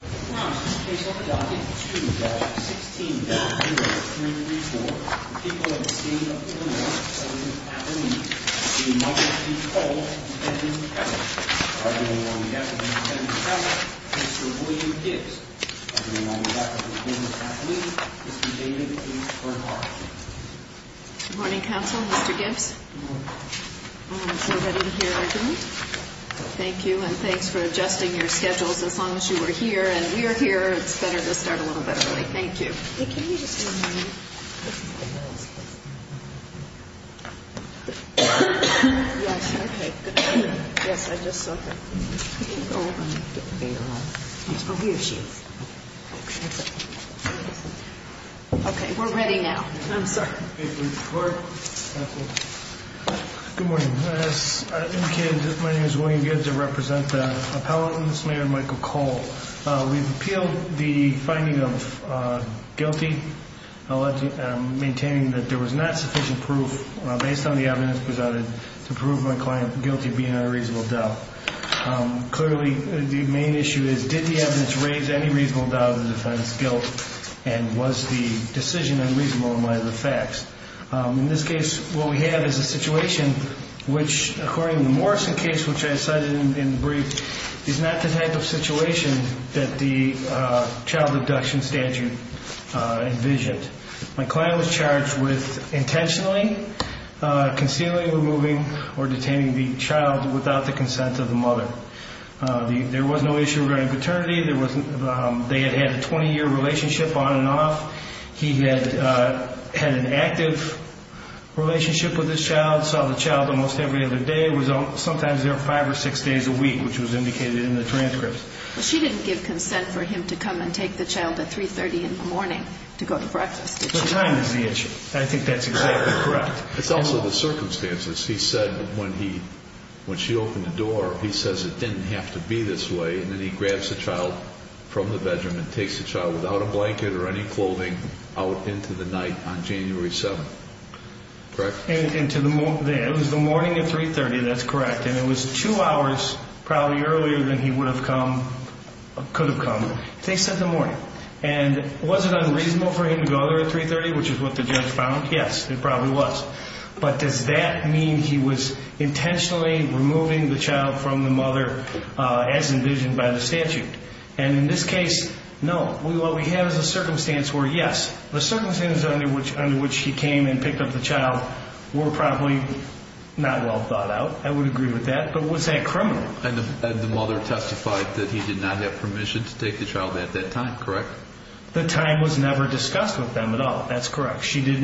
Good morning, counsel. Mr. Gibbs. Thank you. And thanks for adjusting your schedules. As long as you were here and we are here, it's better to start a little bit early. Thank you. Thank you. We're ready now. Good morning. My name is William Gibbs. I represent the appellant, Mr. Michael Cole. We've appealed the finding of guilty, maintaining that there was not sufficient proof based on the evidence presented to prove my client guilty of being on a reasonable doubt. Clearly, the main issue is did the evidence raise any reasonable doubt of the defendant's guilt and was the decision unreasonable in light of the facts? In this case, what we have is a situation which, according to the Morrison case, which I cited in the brief, is not the type of situation that the child abduction statute envisioned. My client was charged with intentionally concealing, removing, or detaining the child without the consent of the mother. There was no issue regarding paternity. They had had a 20-year relationship on and off. He had an active relationship with his child, saw the child almost every other day, sometimes there were five or six days a week, which was indicated in the transcript. She didn't give consent for him to come and take the child at 3.30 in the morning to go to breakfast, did she? The time is the issue. I think that's exactly correct. It's also the circumstances. He said when she opened the door, he says it didn't have to be this way, and then he grabs the child from the bedroom and takes the child without a blanket or any clothing out into the night on January 7th. Correct? It was the morning at 3.30, that's correct, and it was two hours probably earlier than he could have come. They said the morning. And was it unreasonable for him to go there at 3.30, which is what the judge found? Yes, it probably was. But does that mean he was intentionally removing the child from the mother as envisioned by the statute? And in this case, no. What we have is a circumstance where, yes, the circumstances under which he came and picked up the child were probably not well thought out. I would agree with that. But was that criminal? And the mother testified that he did not have permission to take the child at that time. Correct? The time was never discussed with them at all. That's correct. She did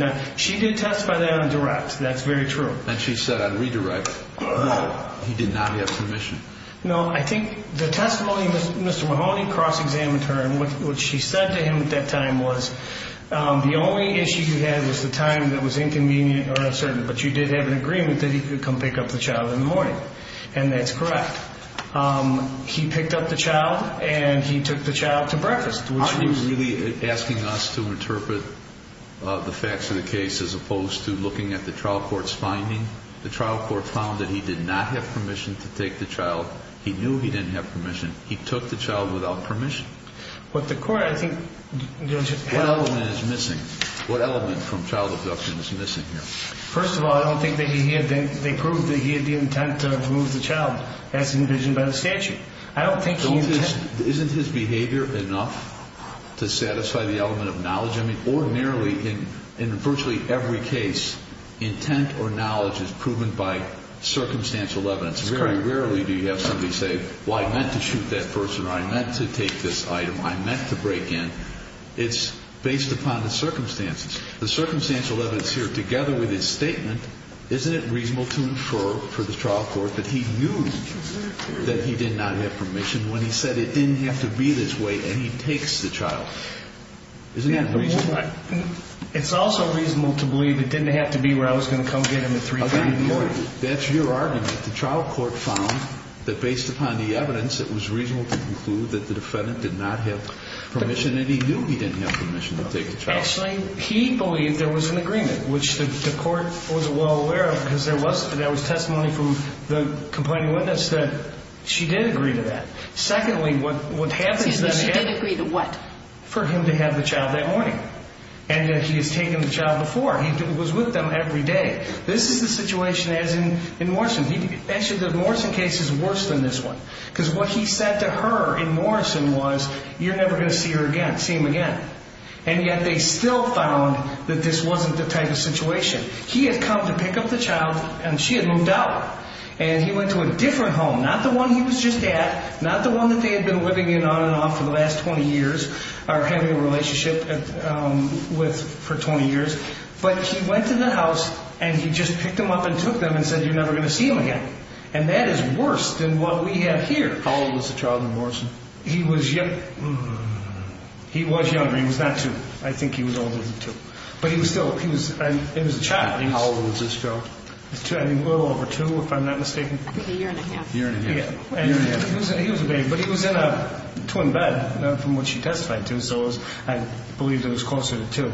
testify that on direct. That's very true. And she said on redirect, no, he did not have permission. No, I think the testimony Mr. Mahoney cross-examined her and what she said to him at that time was, the only issue you had was the time that was inconvenient or uncertain, but you did have an agreement that he could come pick up the child in the morning. And that's correct. He picked up the child and he took the child to breakfast. Aren't you really asking us to interpret the facts of the case as opposed to looking at the trial court's finding? The trial court found that he did not have permission to take the child. He knew he didn't have permission. He took the child without permission. But the court, I think, you know, just has to... What element is missing? What element from child abduction is missing here? First of all, I don't think that he had the, they proved that he had the intent to remove the child as envisioned by the statute. I don't think he... Don't his, isn't his behavior enough to satisfy the element of knowledge? I mean, ordinarily, in virtually every case, intent or knowledge is proven by circumstantial evidence. Very rarely do you have somebody say, well, I meant to shoot that person or I meant to take this item, I meant to break in. It's based upon the circumstances. The circumstantial evidence here, together with his statement, isn't it reasonable to infer for the trial court that he knew that he did not have permission when he said it didn't have to be this way and he takes the child? Isn't that reasonable? It's also reasonable to believe it didn't have to be where I was going to come get him at 3 o'clock in the morning. That's your argument. The trial court found that based upon the evidence, it was reasonable to conclude that the defendant did not have permission and he knew he didn't have permission to take the child. Actually, he believed there was an agreement, which the court wasn't well aware of because there was, there was testimony from the complaining witness that she did agree to that. Secondly, what happens then... for him to have the child that morning? And he has taken the child before. He was with them every day. This is the situation as in Morrison. Actually, the Morrison case is worse than this one. Because what he said to her in Morrison was, you're never going to see her again, see him again. And yet they still found that this wasn't the type of situation. He had come to pick up the child and she had moved out. And he went to a different home, not the one he was just at, not the one that they had been living in on and off for the last 20 years or having a relationship with for 20 years. But he went to the house and he just picked them up and took them and said, you're never going to see him again. And that is worse than what we have here. How old was the child in Morrison? He was young. He was younger. He was not two. I think he was older than two. But he was still, he was, it was a child. And how old was this child? A little over two, if I'm not mistaken. I think a year and a half. A year and a half. A year and a half. He was a baby. But he was in a twin bed from what she testified to. So I believe that it was closer to two.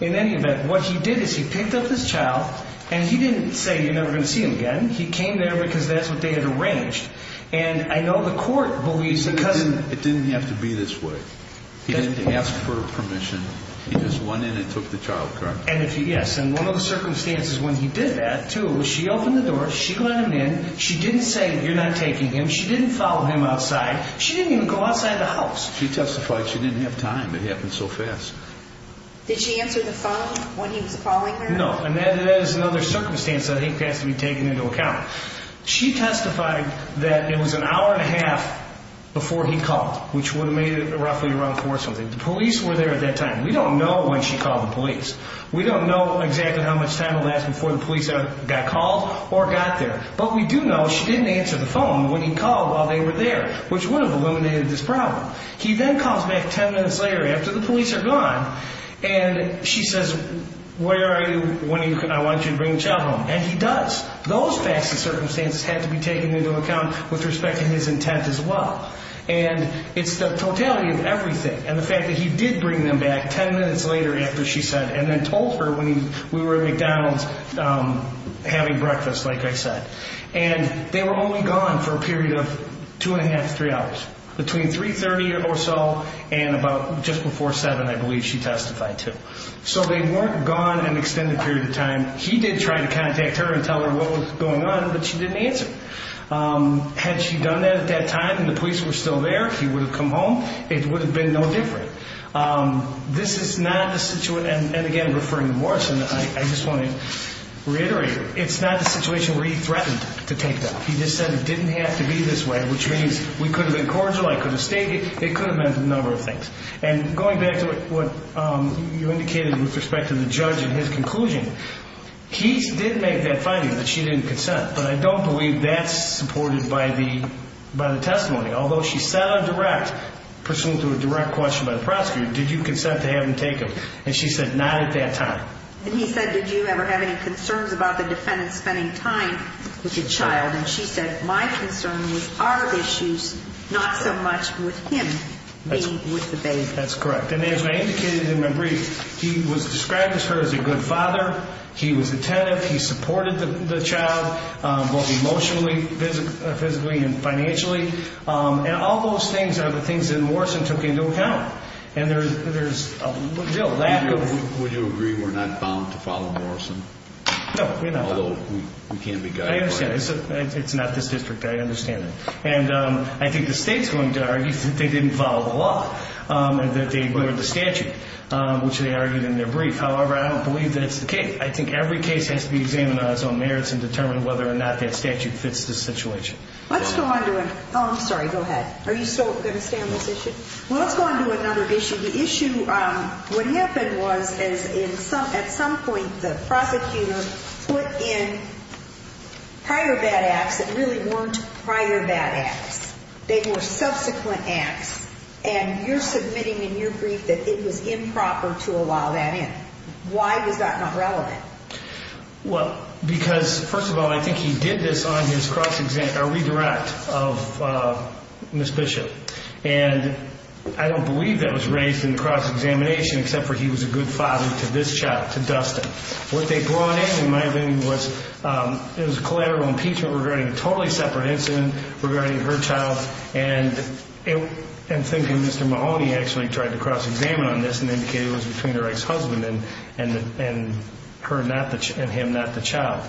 In any event, what he did is he picked up this child and he didn't say you're never going to see him again. He came there because that's what they had arranged. And I know the court believes that because of... It didn't have to be this way. He didn't ask for permission. He just went in and took the child, correct? Yes. And one of the circumstances when he did that, too, was she opened the door, she let him in. She didn't say you're not taking him. She didn't follow him outside. She didn't even go outside the house. She testified she didn't have time. It happened so fast. Did she answer the phone when he was calling her? No. And that is another circumstance that I think has to be taken into account. She testified that it was an hour and a half before he called, which would have made it roughly around four something. The police were there at that time. We don't know when she called the police. We don't know exactly how much time will last before the police got called or got there. But we do know she didn't answer the phone when he called while they were there, which would have eliminated this problem. He then calls back ten minutes later after the police are gone, and she says, where are you? I want you to bring the child home. And he does. Those facts and circumstances had to be taken into account with respect to his intent as well. And it's the totality of everything, and the fact that he did bring them back ten minutes later after she said and then told her when we were at McDonald's having breakfast, like I said. And they were only gone for a period of two and a half to three hours, between 3.30 or so and about just before 7, I believe she testified to. So they weren't gone an extended period of time. He did try to contact her and tell her what was going on, but she didn't answer. Had she done that at that time and the police were still there, he would have come home. It would have been no different. This is not a situation, and again referring to Morrison, I just want to reiterate, it's not a situation where he threatened to take them. He just said it didn't have to be this way, which means we could have been cordial, I could have stayed here. It could have meant a number of things. And going back to what you indicated with respect to the judge and his conclusion, he did make that finding that she didn't consent, but I don't believe that's supported by the testimony. Although she said on direct, pursuant to a direct question by the prosecutor, did you consent to have him taken? And she said not at that time. And he said, did you ever have any concerns about the defendant spending time with the child? And she said, my concern was our issues, not so much with him being with the baby. That's correct. And as I indicated in my brief, he was described to her as a good father. He was attentive. He supported the child, both emotionally, physically, and financially. And all those things are the things that Morrison took into account. And there's a lack of... Would you agree we're not bound to follow Morrison? No, we're not bound. Although we can be guided by him. I understand. It's not this district. I understand that. And I think the state's going to argue that they didn't follow the law, that they ignored the statute, which they argued in their brief. However, I don't believe that it's the case. I think every case has to be examined on its own merits and determined whether or not that statute fits the situation. Let's go on to a... Oh, I'm sorry. Go ahead. Are you still going to stay on this issue? Well, let's go on to another issue. The issue, what happened was at some point the prosecutor put in prior bad acts that really weren't prior bad acts. They were subsequent acts. And you're submitting in your brief that it was improper to allow that in. Why was that not relevant? Well, because, first of all, I think he did this on his cross-examination, a redirect of Ms. Bishop. And I don't believe that was raised in the cross-examination except for he was a good father to this child, to Dustin. What they brought in, in my opinion, was it was collateral impeachment regarding a totally separate incident regarding her child. And I'm thinking Mr. Mahoney actually tried to cross-examine on this and indicated it was between her ex-husband and him, not the child.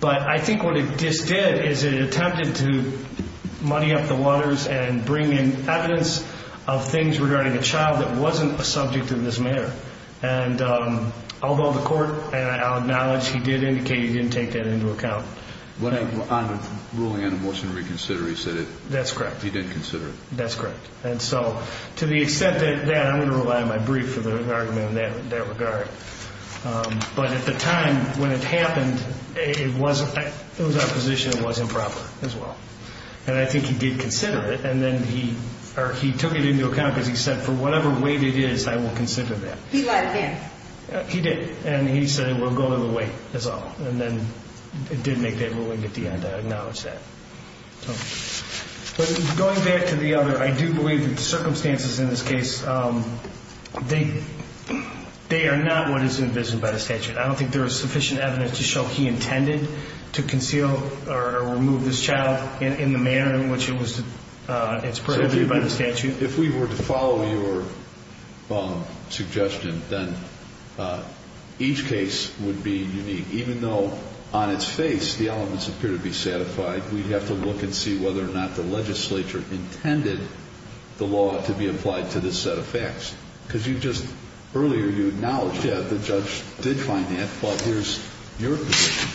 But I think what it just did is it attempted to muddy up the waters and bring in evidence of things regarding a child that wasn't a subject of this matter. And although the court acknowledged he did indicate he didn't take that into account. On the ruling on the motion to reconsider, he said he didn't consider it. That's correct. That's correct. And so to the extent that that, I'm going to rely on my brief for the argument in that regard. But at the time when it happened, it was our position it was improper as well. And I think he did consider it, and then he took it into account because he said, for whatever weight it is, I will consider that. He lied again. He did. And he said it will go to the weight, that's all. And then it did make that ruling at the end, I acknowledge that. But going back to the other, I do believe that the circumstances in this case, they are not what is envisioned by the statute. I don't think there is sufficient evidence to show he intended to conceal or remove this child in the manner in which it's prohibited by the statute. If we were to follow your suggestion, then each case would be unique. Even though on its face the elements appear to be satisfied, we'd have to look and see whether or not the legislature intended the law to be applied to this set of facts. Because you just earlier, you acknowledged that the judge did find that, but here's your position.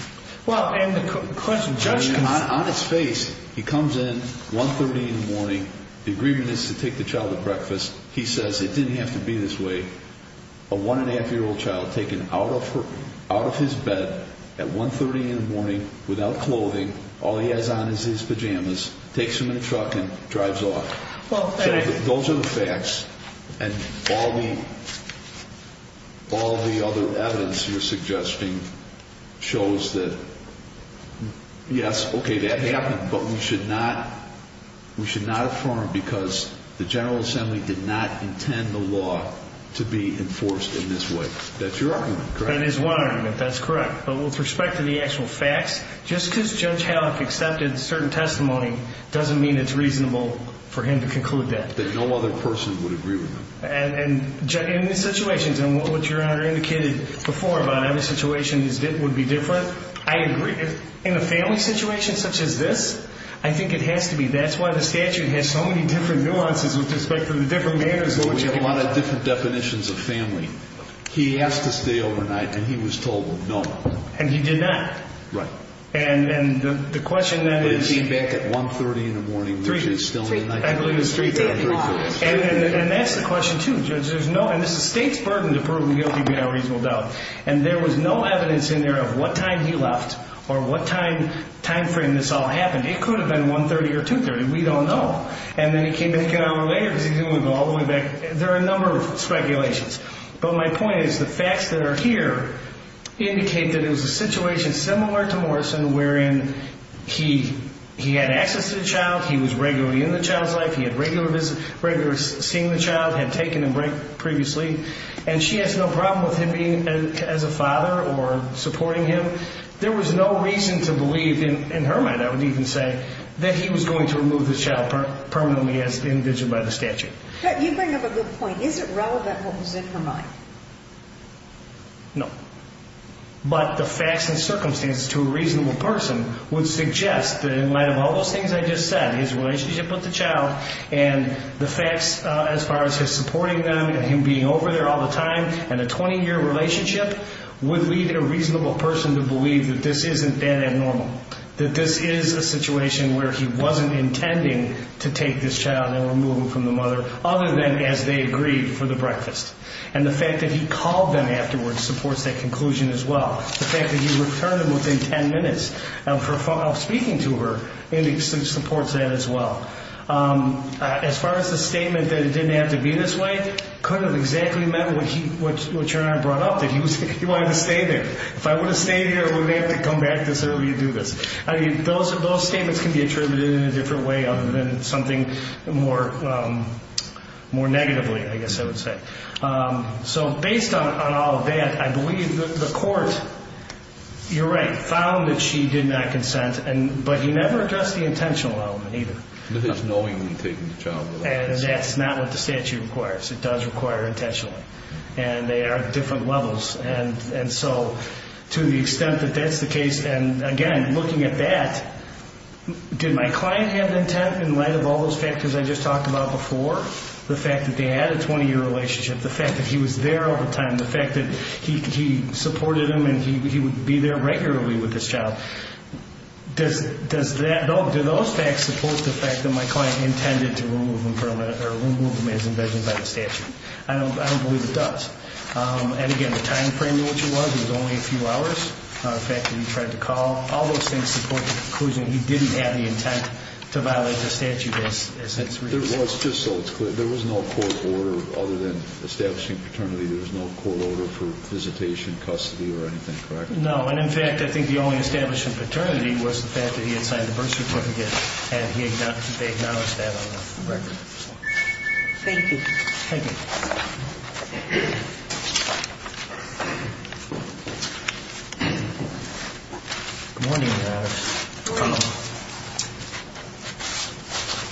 On its face, he comes in, 1.30 in the morning, the agreement is to take the child to breakfast. He says it didn't have to be this way. A one-and-a-half-year-old child taken out of his bed at 1.30 in the morning without clothing, all he has on is his pajamas, takes him in a truck and drives off. Those are the facts, and all the other evidence you're suggesting shows that, yes, okay, that happened. But we should not affirm because the General Assembly did not intend the law to be enforced in this way. That's your argument, correct? That is one argument, that's correct. But with respect to the actual facts, just because Judge Hallock accepted certain testimony doesn't mean it's reasonable for him to conclude that. That no other person would agree with him. And in these situations, and what Your Honor indicated before about how the situation would be different, I agree. In a family situation such as this, I think it has to be. That's why the statute has so many different nuances with respect to the different manners in which it applies. We have a lot of different definitions of family. He has to stay overnight, and he was told no. And he did not. Right. And the question then is... He came back at 1.30 in the morning, which is still midnight. I believe it's 3.30. And that's the question, too, Judge. There's no, and this is the state's burden to prove him guilty without reasonable doubt. And there was no evidence in there of what time he left or what time frame this all happened. It could have been 1.30 or 2.30, we don't know. And then he came back an hour later because he didn't want to go all the way back. There are a number of speculations. But my point is the facts that are here indicate that it was a situation similar to Morrison wherein he had access to the child, he was regularly in the child's life, he had regular seeing the child, had taken a break previously, and she has no problem with him being as a father or supporting him. There was no reason to believe, in her mind I would even say, that he was going to remove the child permanently as indicted by the statute. You bring up a good point. Is it relevant what was in her mind? No. But the facts and circumstances to a reasonable person would suggest that in light of all those things I just said, his relationship with the child and the facts as far as his supporting them and him being over there all the time and a 20-year relationship would lead a reasonable person to believe that this isn't that abnormal, that this is a situation where he wasn't intending to take this child and remove it from the mother other than as they agreed for the breakfast. And the fact that he called them afterwards supports that conclusion as well. The fact that he returned them within 10 minutes of speaking to her supports that as well. As far as the statement that it didn't have to be this way, it could have exactly meant what you and I brought up, that he wanted to stay there. If I would have stayed here, I wouldn't have had to come back this early to do this. Those statements can be attributed in a different way other than something more negatively, I guess I would say. So based on all of that, I believe the court, you're right, found that she did not consent, but he never addressed the intentional element either. He was knowingly taking the child away. And that's not what the statute requires. It does require intentionally. And they are different levels. And so to the extent that that's the case, and, again, looking at that, did my client have intent in light of all those factors I just talked about before? The fact that they had a 20-year relationship, the fact that he was there all the time, the fact that he supported them and he would be there regularly with this child. Do those facts support the fact that my client intended to remove them as envisioned by the statute? I don't believe it does. And, again, the time frame in which it was, it was only a few hours, the fact that he tried to call, all those things support the conclusion he didn't have the intent to violate the statute as it's reasoned. There was, just so it's clear, there was no court order other than establishing paternity. There was no court order for visitation, custody, or anything, correct? No. And, in fact, I think the only establishment of paternity was the fact that he had signed the birth certificate Thank you. Thank you. Thank you. Good morning, Your Honor. Good morning.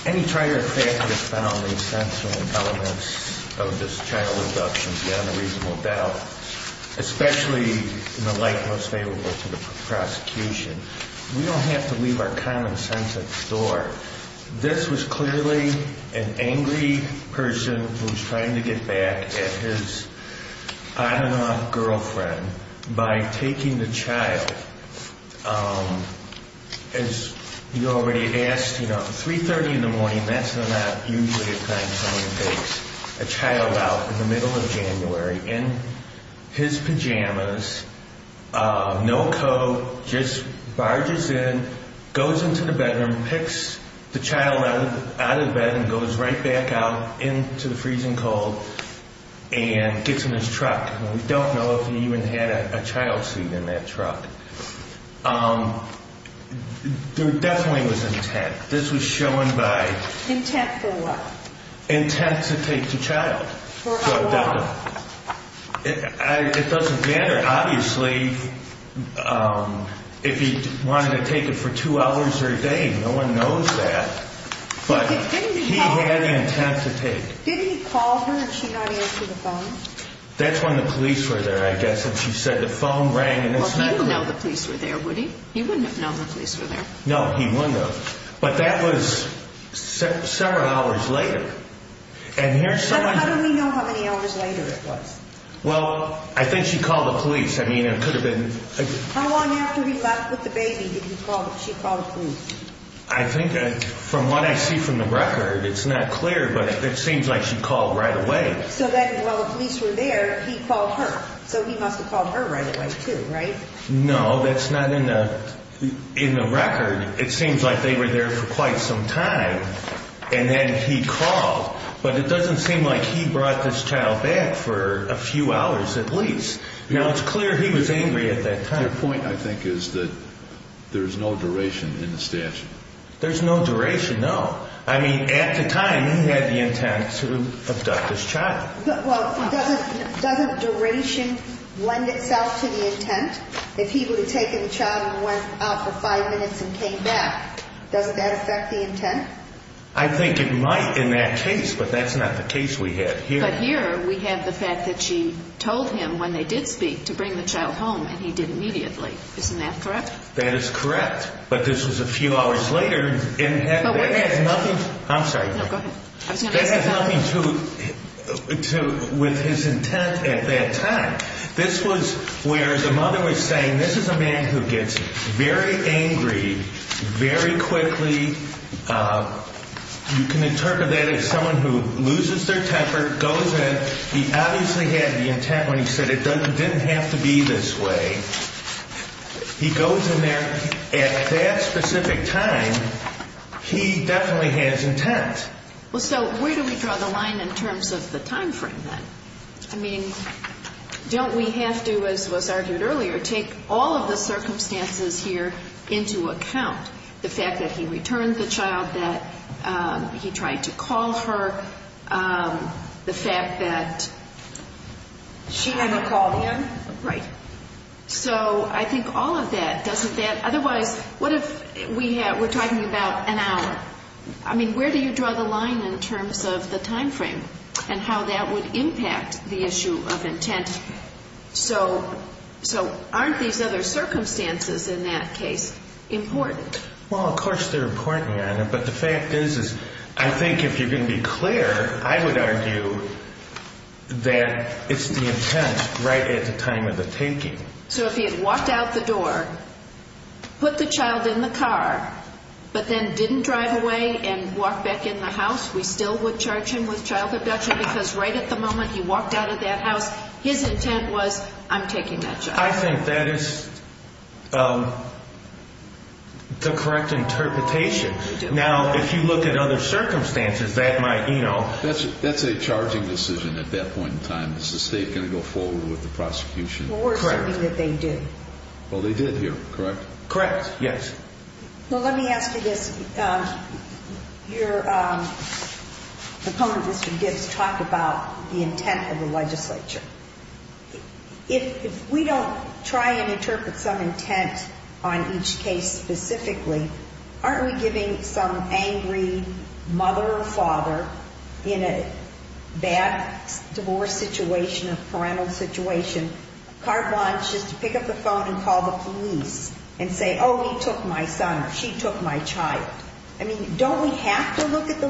Any trier fact that has found the essential elements of this child abduction beyond a reasonable doubt, especially in the light most favorable to the prosecution, we don't have to leave our common sense at the door. This was clearly an angry person who was trying to get back at his, I don't know, girlfriend by taking the child. As you already asked, you know, 3.30 in the morning, that's not usually a time someone takes a child out in the middle of January in his pajamas, no coat, just barges in, goes into the bedroom, picks the child out of the bedroom, goes right back out into the freezing cold, and gets in his truck. We don't know if he even had a child seat in that truck. There definitely was intent. This was shown by... Intent for what? Intent to take the child. For how long? It doesn't matter. Obviously, if he wanted to take it for two hours a day, no one knows that. But he had the intent to take. Did he call her and she not answer the phone? That's when the police were there, I guess, and she said the phone rang and it's not... Well, he wouldn't know the police were there, would he? He wouldn't have known the police were there. No, he wouldn't have. But that was several hours later. How do we know how many hours later it was? Well, I think she called the police. I mean, it could have been... How long after he left with the baby did she call the police? I think, from what I see from the record, it's not clear, but it seems like she called right away. So while the police were there, he called her. So he must have called her right away, too, right? No, that's not in the record. It seems like they were there for quite some time. And then he called, but it doesn't seem like he brought this child back for a few hours at least. Now, it's clear he was angry at that time. The point, I think, is that there's no duration in the statute. There's no duration, no. I mean, at the time, he had the intent to abduct this child. Well, doesn't duration lend itself to the intent? If he would have taken the child and went out for five minutes and came back, doesn't that affect the intent? I think it might in that case, but that's not the case we have here. But here, we have the fact that she told him, when they did speak, to bring the child home, and he did immediately. Isn't that correct? That is correct. But this was a few hours later, and that has nothing... I'm sorry. No, go ahead. That has nothing to do with his intent at that time. This was where the mother was saying, this is a man who gets very angry very quickly. You can interpret that as someone who loses their temper, goes in. He obviously had the intent when he said it didn't have to be this way. He goes in there at that specific time. He definitely has intent. Well, so where do we draw the line in terms of the time frame then? I mean, don't we have to, as was argued earlier, take all of the circumstances here into account? The fact that he returned the child, that he tried to call her, the fact that she never called him. Right. So I think all of that doesn't... Otherwise, what if we're talking about an hour? I mean, where do you draw the line in terms of the time frame and how that would impact the issue of intent? So aren't these other circumstances in that case important? Well, of course they're important, Your Honor. But the fact is, I think if you're going to be clear, I would argue that it's the intent right at the time of the taking. So if he had walked out the door, put the child in the car, but then didn't drive away and walk back in the house, we still would charge him with child abduction because right at the moment he walked out of that house, his intent was, I'm taking that child. I think that is the correct interpretation. Now, if you look at other circumstances, that might, you know... That's a charging decision at that point in time. Is the state going to go forward with the prosecution? Or something that they did. Well, they did here, correct? Correct, yes. Well, let me ask you this. Your opponent, Mr. Gibbs, talked about the intent of the legislature. If we don't try and interpret some intent on each case specifically, aren't we giving some angry mother or father, in a bad divorce situation or parental situation, car blinds just to pick up the phone and call the police and say, oh, he took my son or she took my child? I mean, don't we have to look at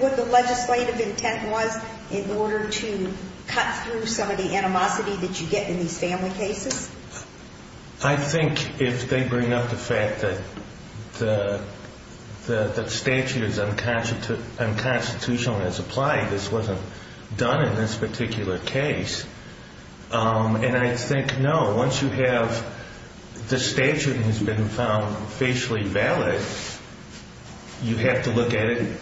what the legislative intent was in order to cut through some of the animosity that you get in these family cases? I think if they bring up the fact that the statute is unconstitutional and it's applied, this wasn't done in this particular case. And I think, no, once you have the statute has been found facially valid, you have to look at it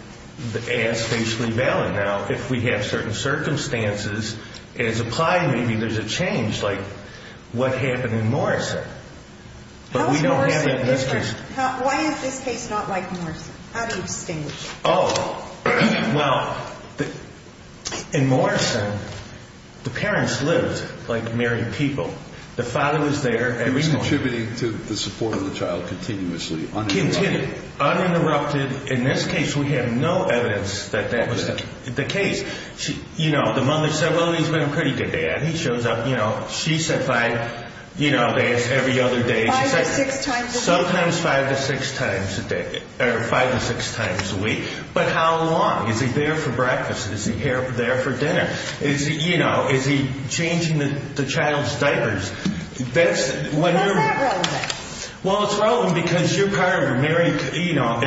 as facially valid. Now, if we have certain circumstances and it's applied, maybe there's a change, like what happened in Morrison. How is Morrison different? Why is this case not like Morrison? How do you distinguish? Oh, well, in Morrison, the parents lived like married people. The father was there every morning. He was contributing to the support of the child continuously, uninterrupted. Continued, uninterrupted. In this case, we have no evidence that that was the case. You know, the mother said, well, he's been a pretty good dad. He shows up, you know, she said five, you know, days every other day. Five or six times a week. Sometimes five to six times a day or five to six times a week. But how long? Is he there for breakfast? Is he there for dinner? Is he, you know, is he changing the child's diapers? What's that relevant? Well, it's relevant because you're part of a married, you know,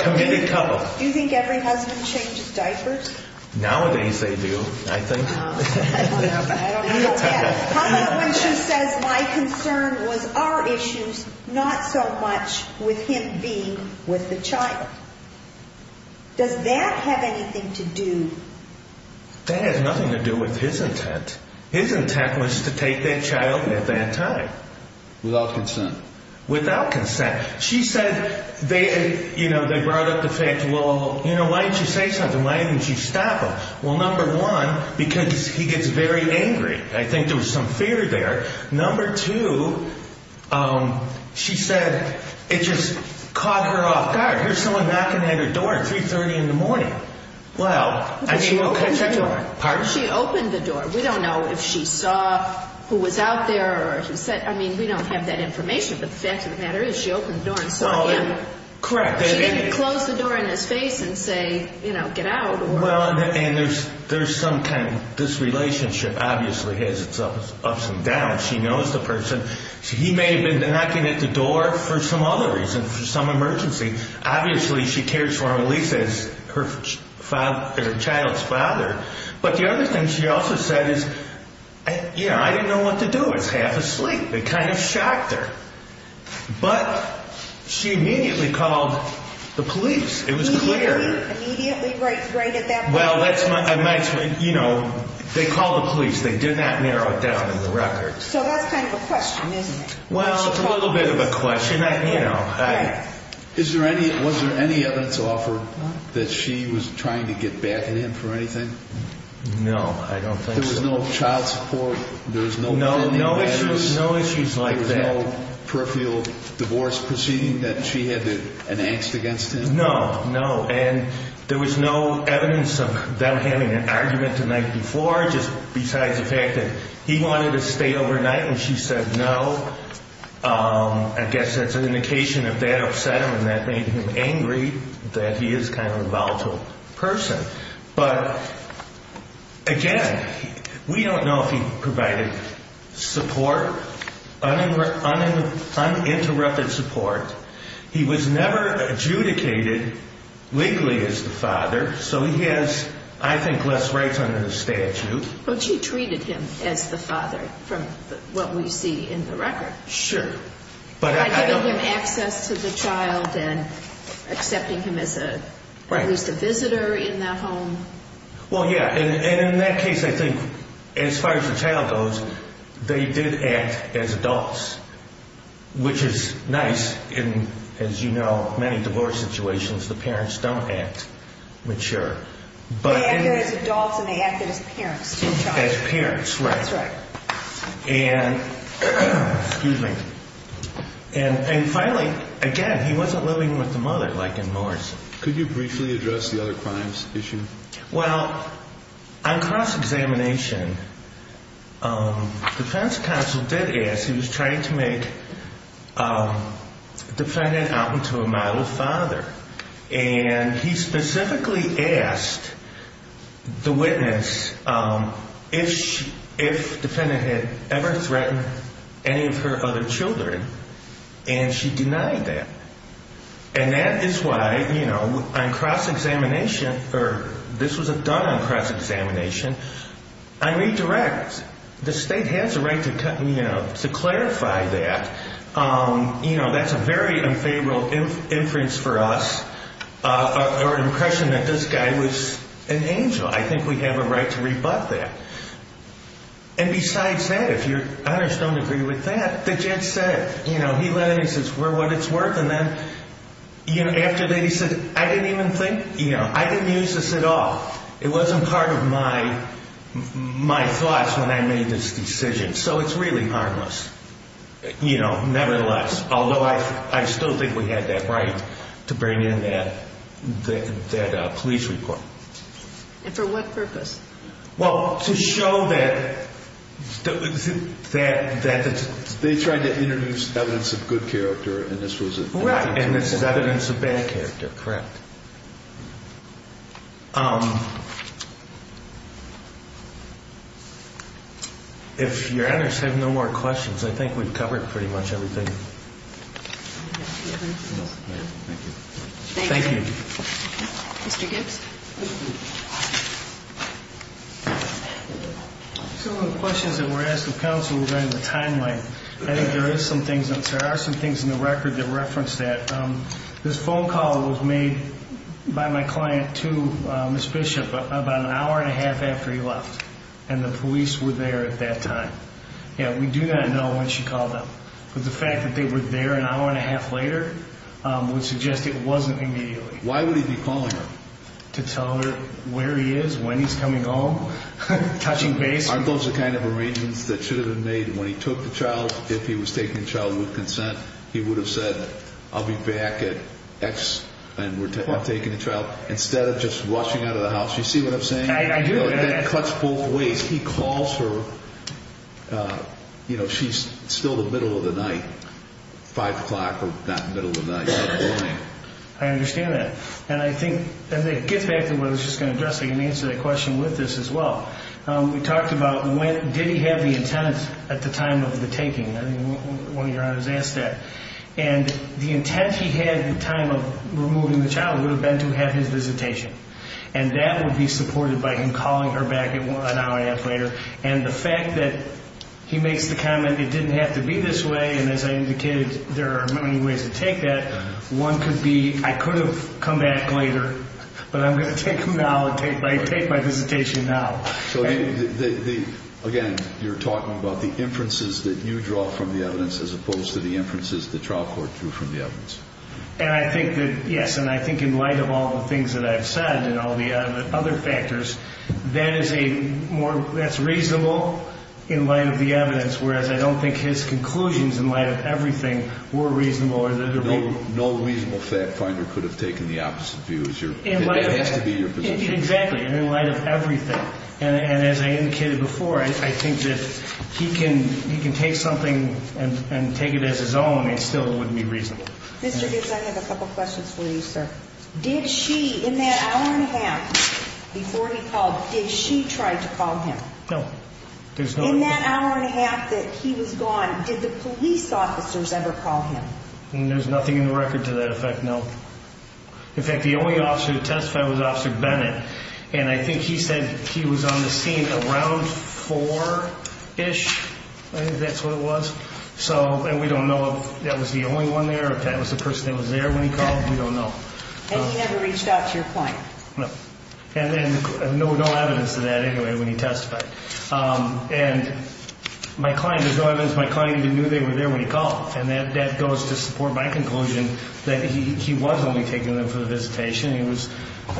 committed couple. Do you think every husband changes diapers? Nowadays they do, I think. I don't know. How about when she says my concern was our issues, not so much with him being with the child? Does that have anything to do? That has nothing to do with his intent. His intent was to take that child with that time. Without consent. Without consent. She said they, you know, they brought up the fact, well, you know, why didn't you say something? Why didn't you stop him? Well, number one, because he gets very angry. I think there was some fear there. Number two, she said it just caught her off guard. Here's someone knocking at her door at 3.30 in the morning. Well, I mean. She opened the door. Pardon? She opened the door. We don't know if she saw who was out there or who said, I mean, we don't have that information. But the fact of the matter is she opened the door and saw him. Correct. She didn't close the door in his face and say, you know, get out. Well, and there's some kind of, this relationship obviously has its ups and downs. She knows the person. He may have been knocking at the door for some other reason, for some emergency. Obviously, she cares for him at least as her child's father. But the other thing she also said is, you know, I didn't know what to do. I was half asleep. It kind of shocked her. But she immediately called the police. It was clear. Immediately right at that point? Well, that's my, you know, they called the police. They did not narrow it down in the records. So that's kind of a question, isn't it? Well, it's a little bit of a question. You know. Is there any, was there any evidence offered that she was trying to get back at him for anything? No, I don't think so. There was no child support? There was no family matters? No, no issues. No issues like that. There was no peripheral divorce proceeding that she had to enacts against him? No, no. And there was no evidence of them having an argument the night before, just besides the fact that he wanted to stay overnight and she said no. I guess that's an indication of that upset him and that made him angry that he is kind of a volatile person. But, again, we don't know if he provided support, uninterrupted support. He was never adjudicated legally as the father. So he has, I think, less rights under the statute. But she treated him as the father from what we see in the record. Sure. By giving him access to the child and accepting him as at least a visitor in the home. Well, yeah. And in that case, I think, as far as the child goes, they did act as adults, which is nice in, as you know, many divorce situations. The parents don't act mature. They acted as adults and they acted as parents to the child. As parents, right. That's right. And, finally, again, he wasn't living with the mother like in Morris. Could you briefly address the other crimes issue? Well, on cross-examination, defense counsel did ask. He was trying to make the defendant out into a model father. And he specifically asked the witness if the defendant had ever threatened any of her other children. And she denied that. And that is why, you know, on cross-examination, or this was done on cross-examination, I redirect. The state has a right to clarify that. You know, that's a very unfavorable inference for us or impression that this guy was an angel. I think we have a right to rebut that. And, besides that, if your honors don't agree with that, the judge said it. You know, he let it, he says, we're what it's worth. And then, you know, after that he said, I didn't even think, you know, I didn't use this at all. It wasn't part of my thoughts when I made this decision. So it's really harmless, you know, nevertheless. Although I still think we had that right to bring in that police report. And for what purpose? Well, to show that they tried to introduce evidence of good character. And this was evidence of bad character. Correct. If your honors have no more questions, I think we've covered pretty much everything. Thank you. Mr. Gibbs. Some of the questions that were asked of counsel regarding the timeline. I think there are some things in the record that reference that. This phone call was made by my client to Ms. Bishop about an hour and a half after he left. And the police were there at that time. Yeah, we do not know when she called them. But the fact that they were there an hour and a half later would suggest it wasn't immediately. Why would he be calling her? To tell her where he is, when he's coming home, touching base. Aren't those the kind of arrangements that should have been made when he took the child? If he was taking the child with consent, he would have said, I'll be back at X and we're taking the child. Instead of just rushing out of the house. You see what I'm saying? I do. It cuts both ways. He calls her, you know, she's still the middle of the night, 5 o'clock or not middle of the night. I understand that. And I think as it gets back to what I was just going to address, I can answer that question with this as well. We talked about when, did he have the intent at the time of the taking. One of your honors asked that. And the intent he had at the time of removing the child would have been to have his visitation. And that would be supported by him calling her back an hour and a half later. And the fact that he makes the comment, it didn't have to be this way. And as I indicated, there are many ways to take that. One could be, I could have come back later, but I'm going to take my visitation now. So again, you're talking about the inferences that you draw from the evidence as opposed to the inferences the trial court drew from the evidence. And I think that, yes, and I think in light of all the things that I've said and all the other factors, that is a more, that's reasonable in light of the evidence. Whereas I don't think his conclusions in light of everything were reasonable. No reasonable fact finder could have taken the opposite view. It has to be your position. Exactly. In light of everything. And as I indicated before, I think that he can take something and take it as his own and still it wouldn't be reasonable. Mr. Gibbs, I have a couple questions for you, sir. Did she, in that hour and a half before he called, did she try to call him? No. In that hour and a half that he was gone, did the police officers ever call him? There's nothing in the record to that effect, no. In fact, the only officer that testified was Officer Bennett. And I think he said he was on the scene around 4-ish. I think that's what it was. And we don't know if that was the only one there or if that was the person that was there when he called. We don't know. And he never reached out to your client? No. And then no evidence of that anyway when he testified. And my client, there's no evidence my client even knew they were there when he called. And that goes to support my conclusion that he was only taking them for the visitation. He was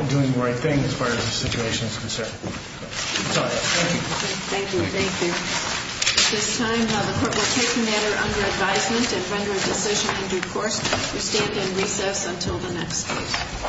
doing the right thing as far as the situation is concerned. That's all I have. Thank you. Thank you. Thank you. At this time, the Court will take the matter under advisement and render a decision in due course. We stand in recess until the next case.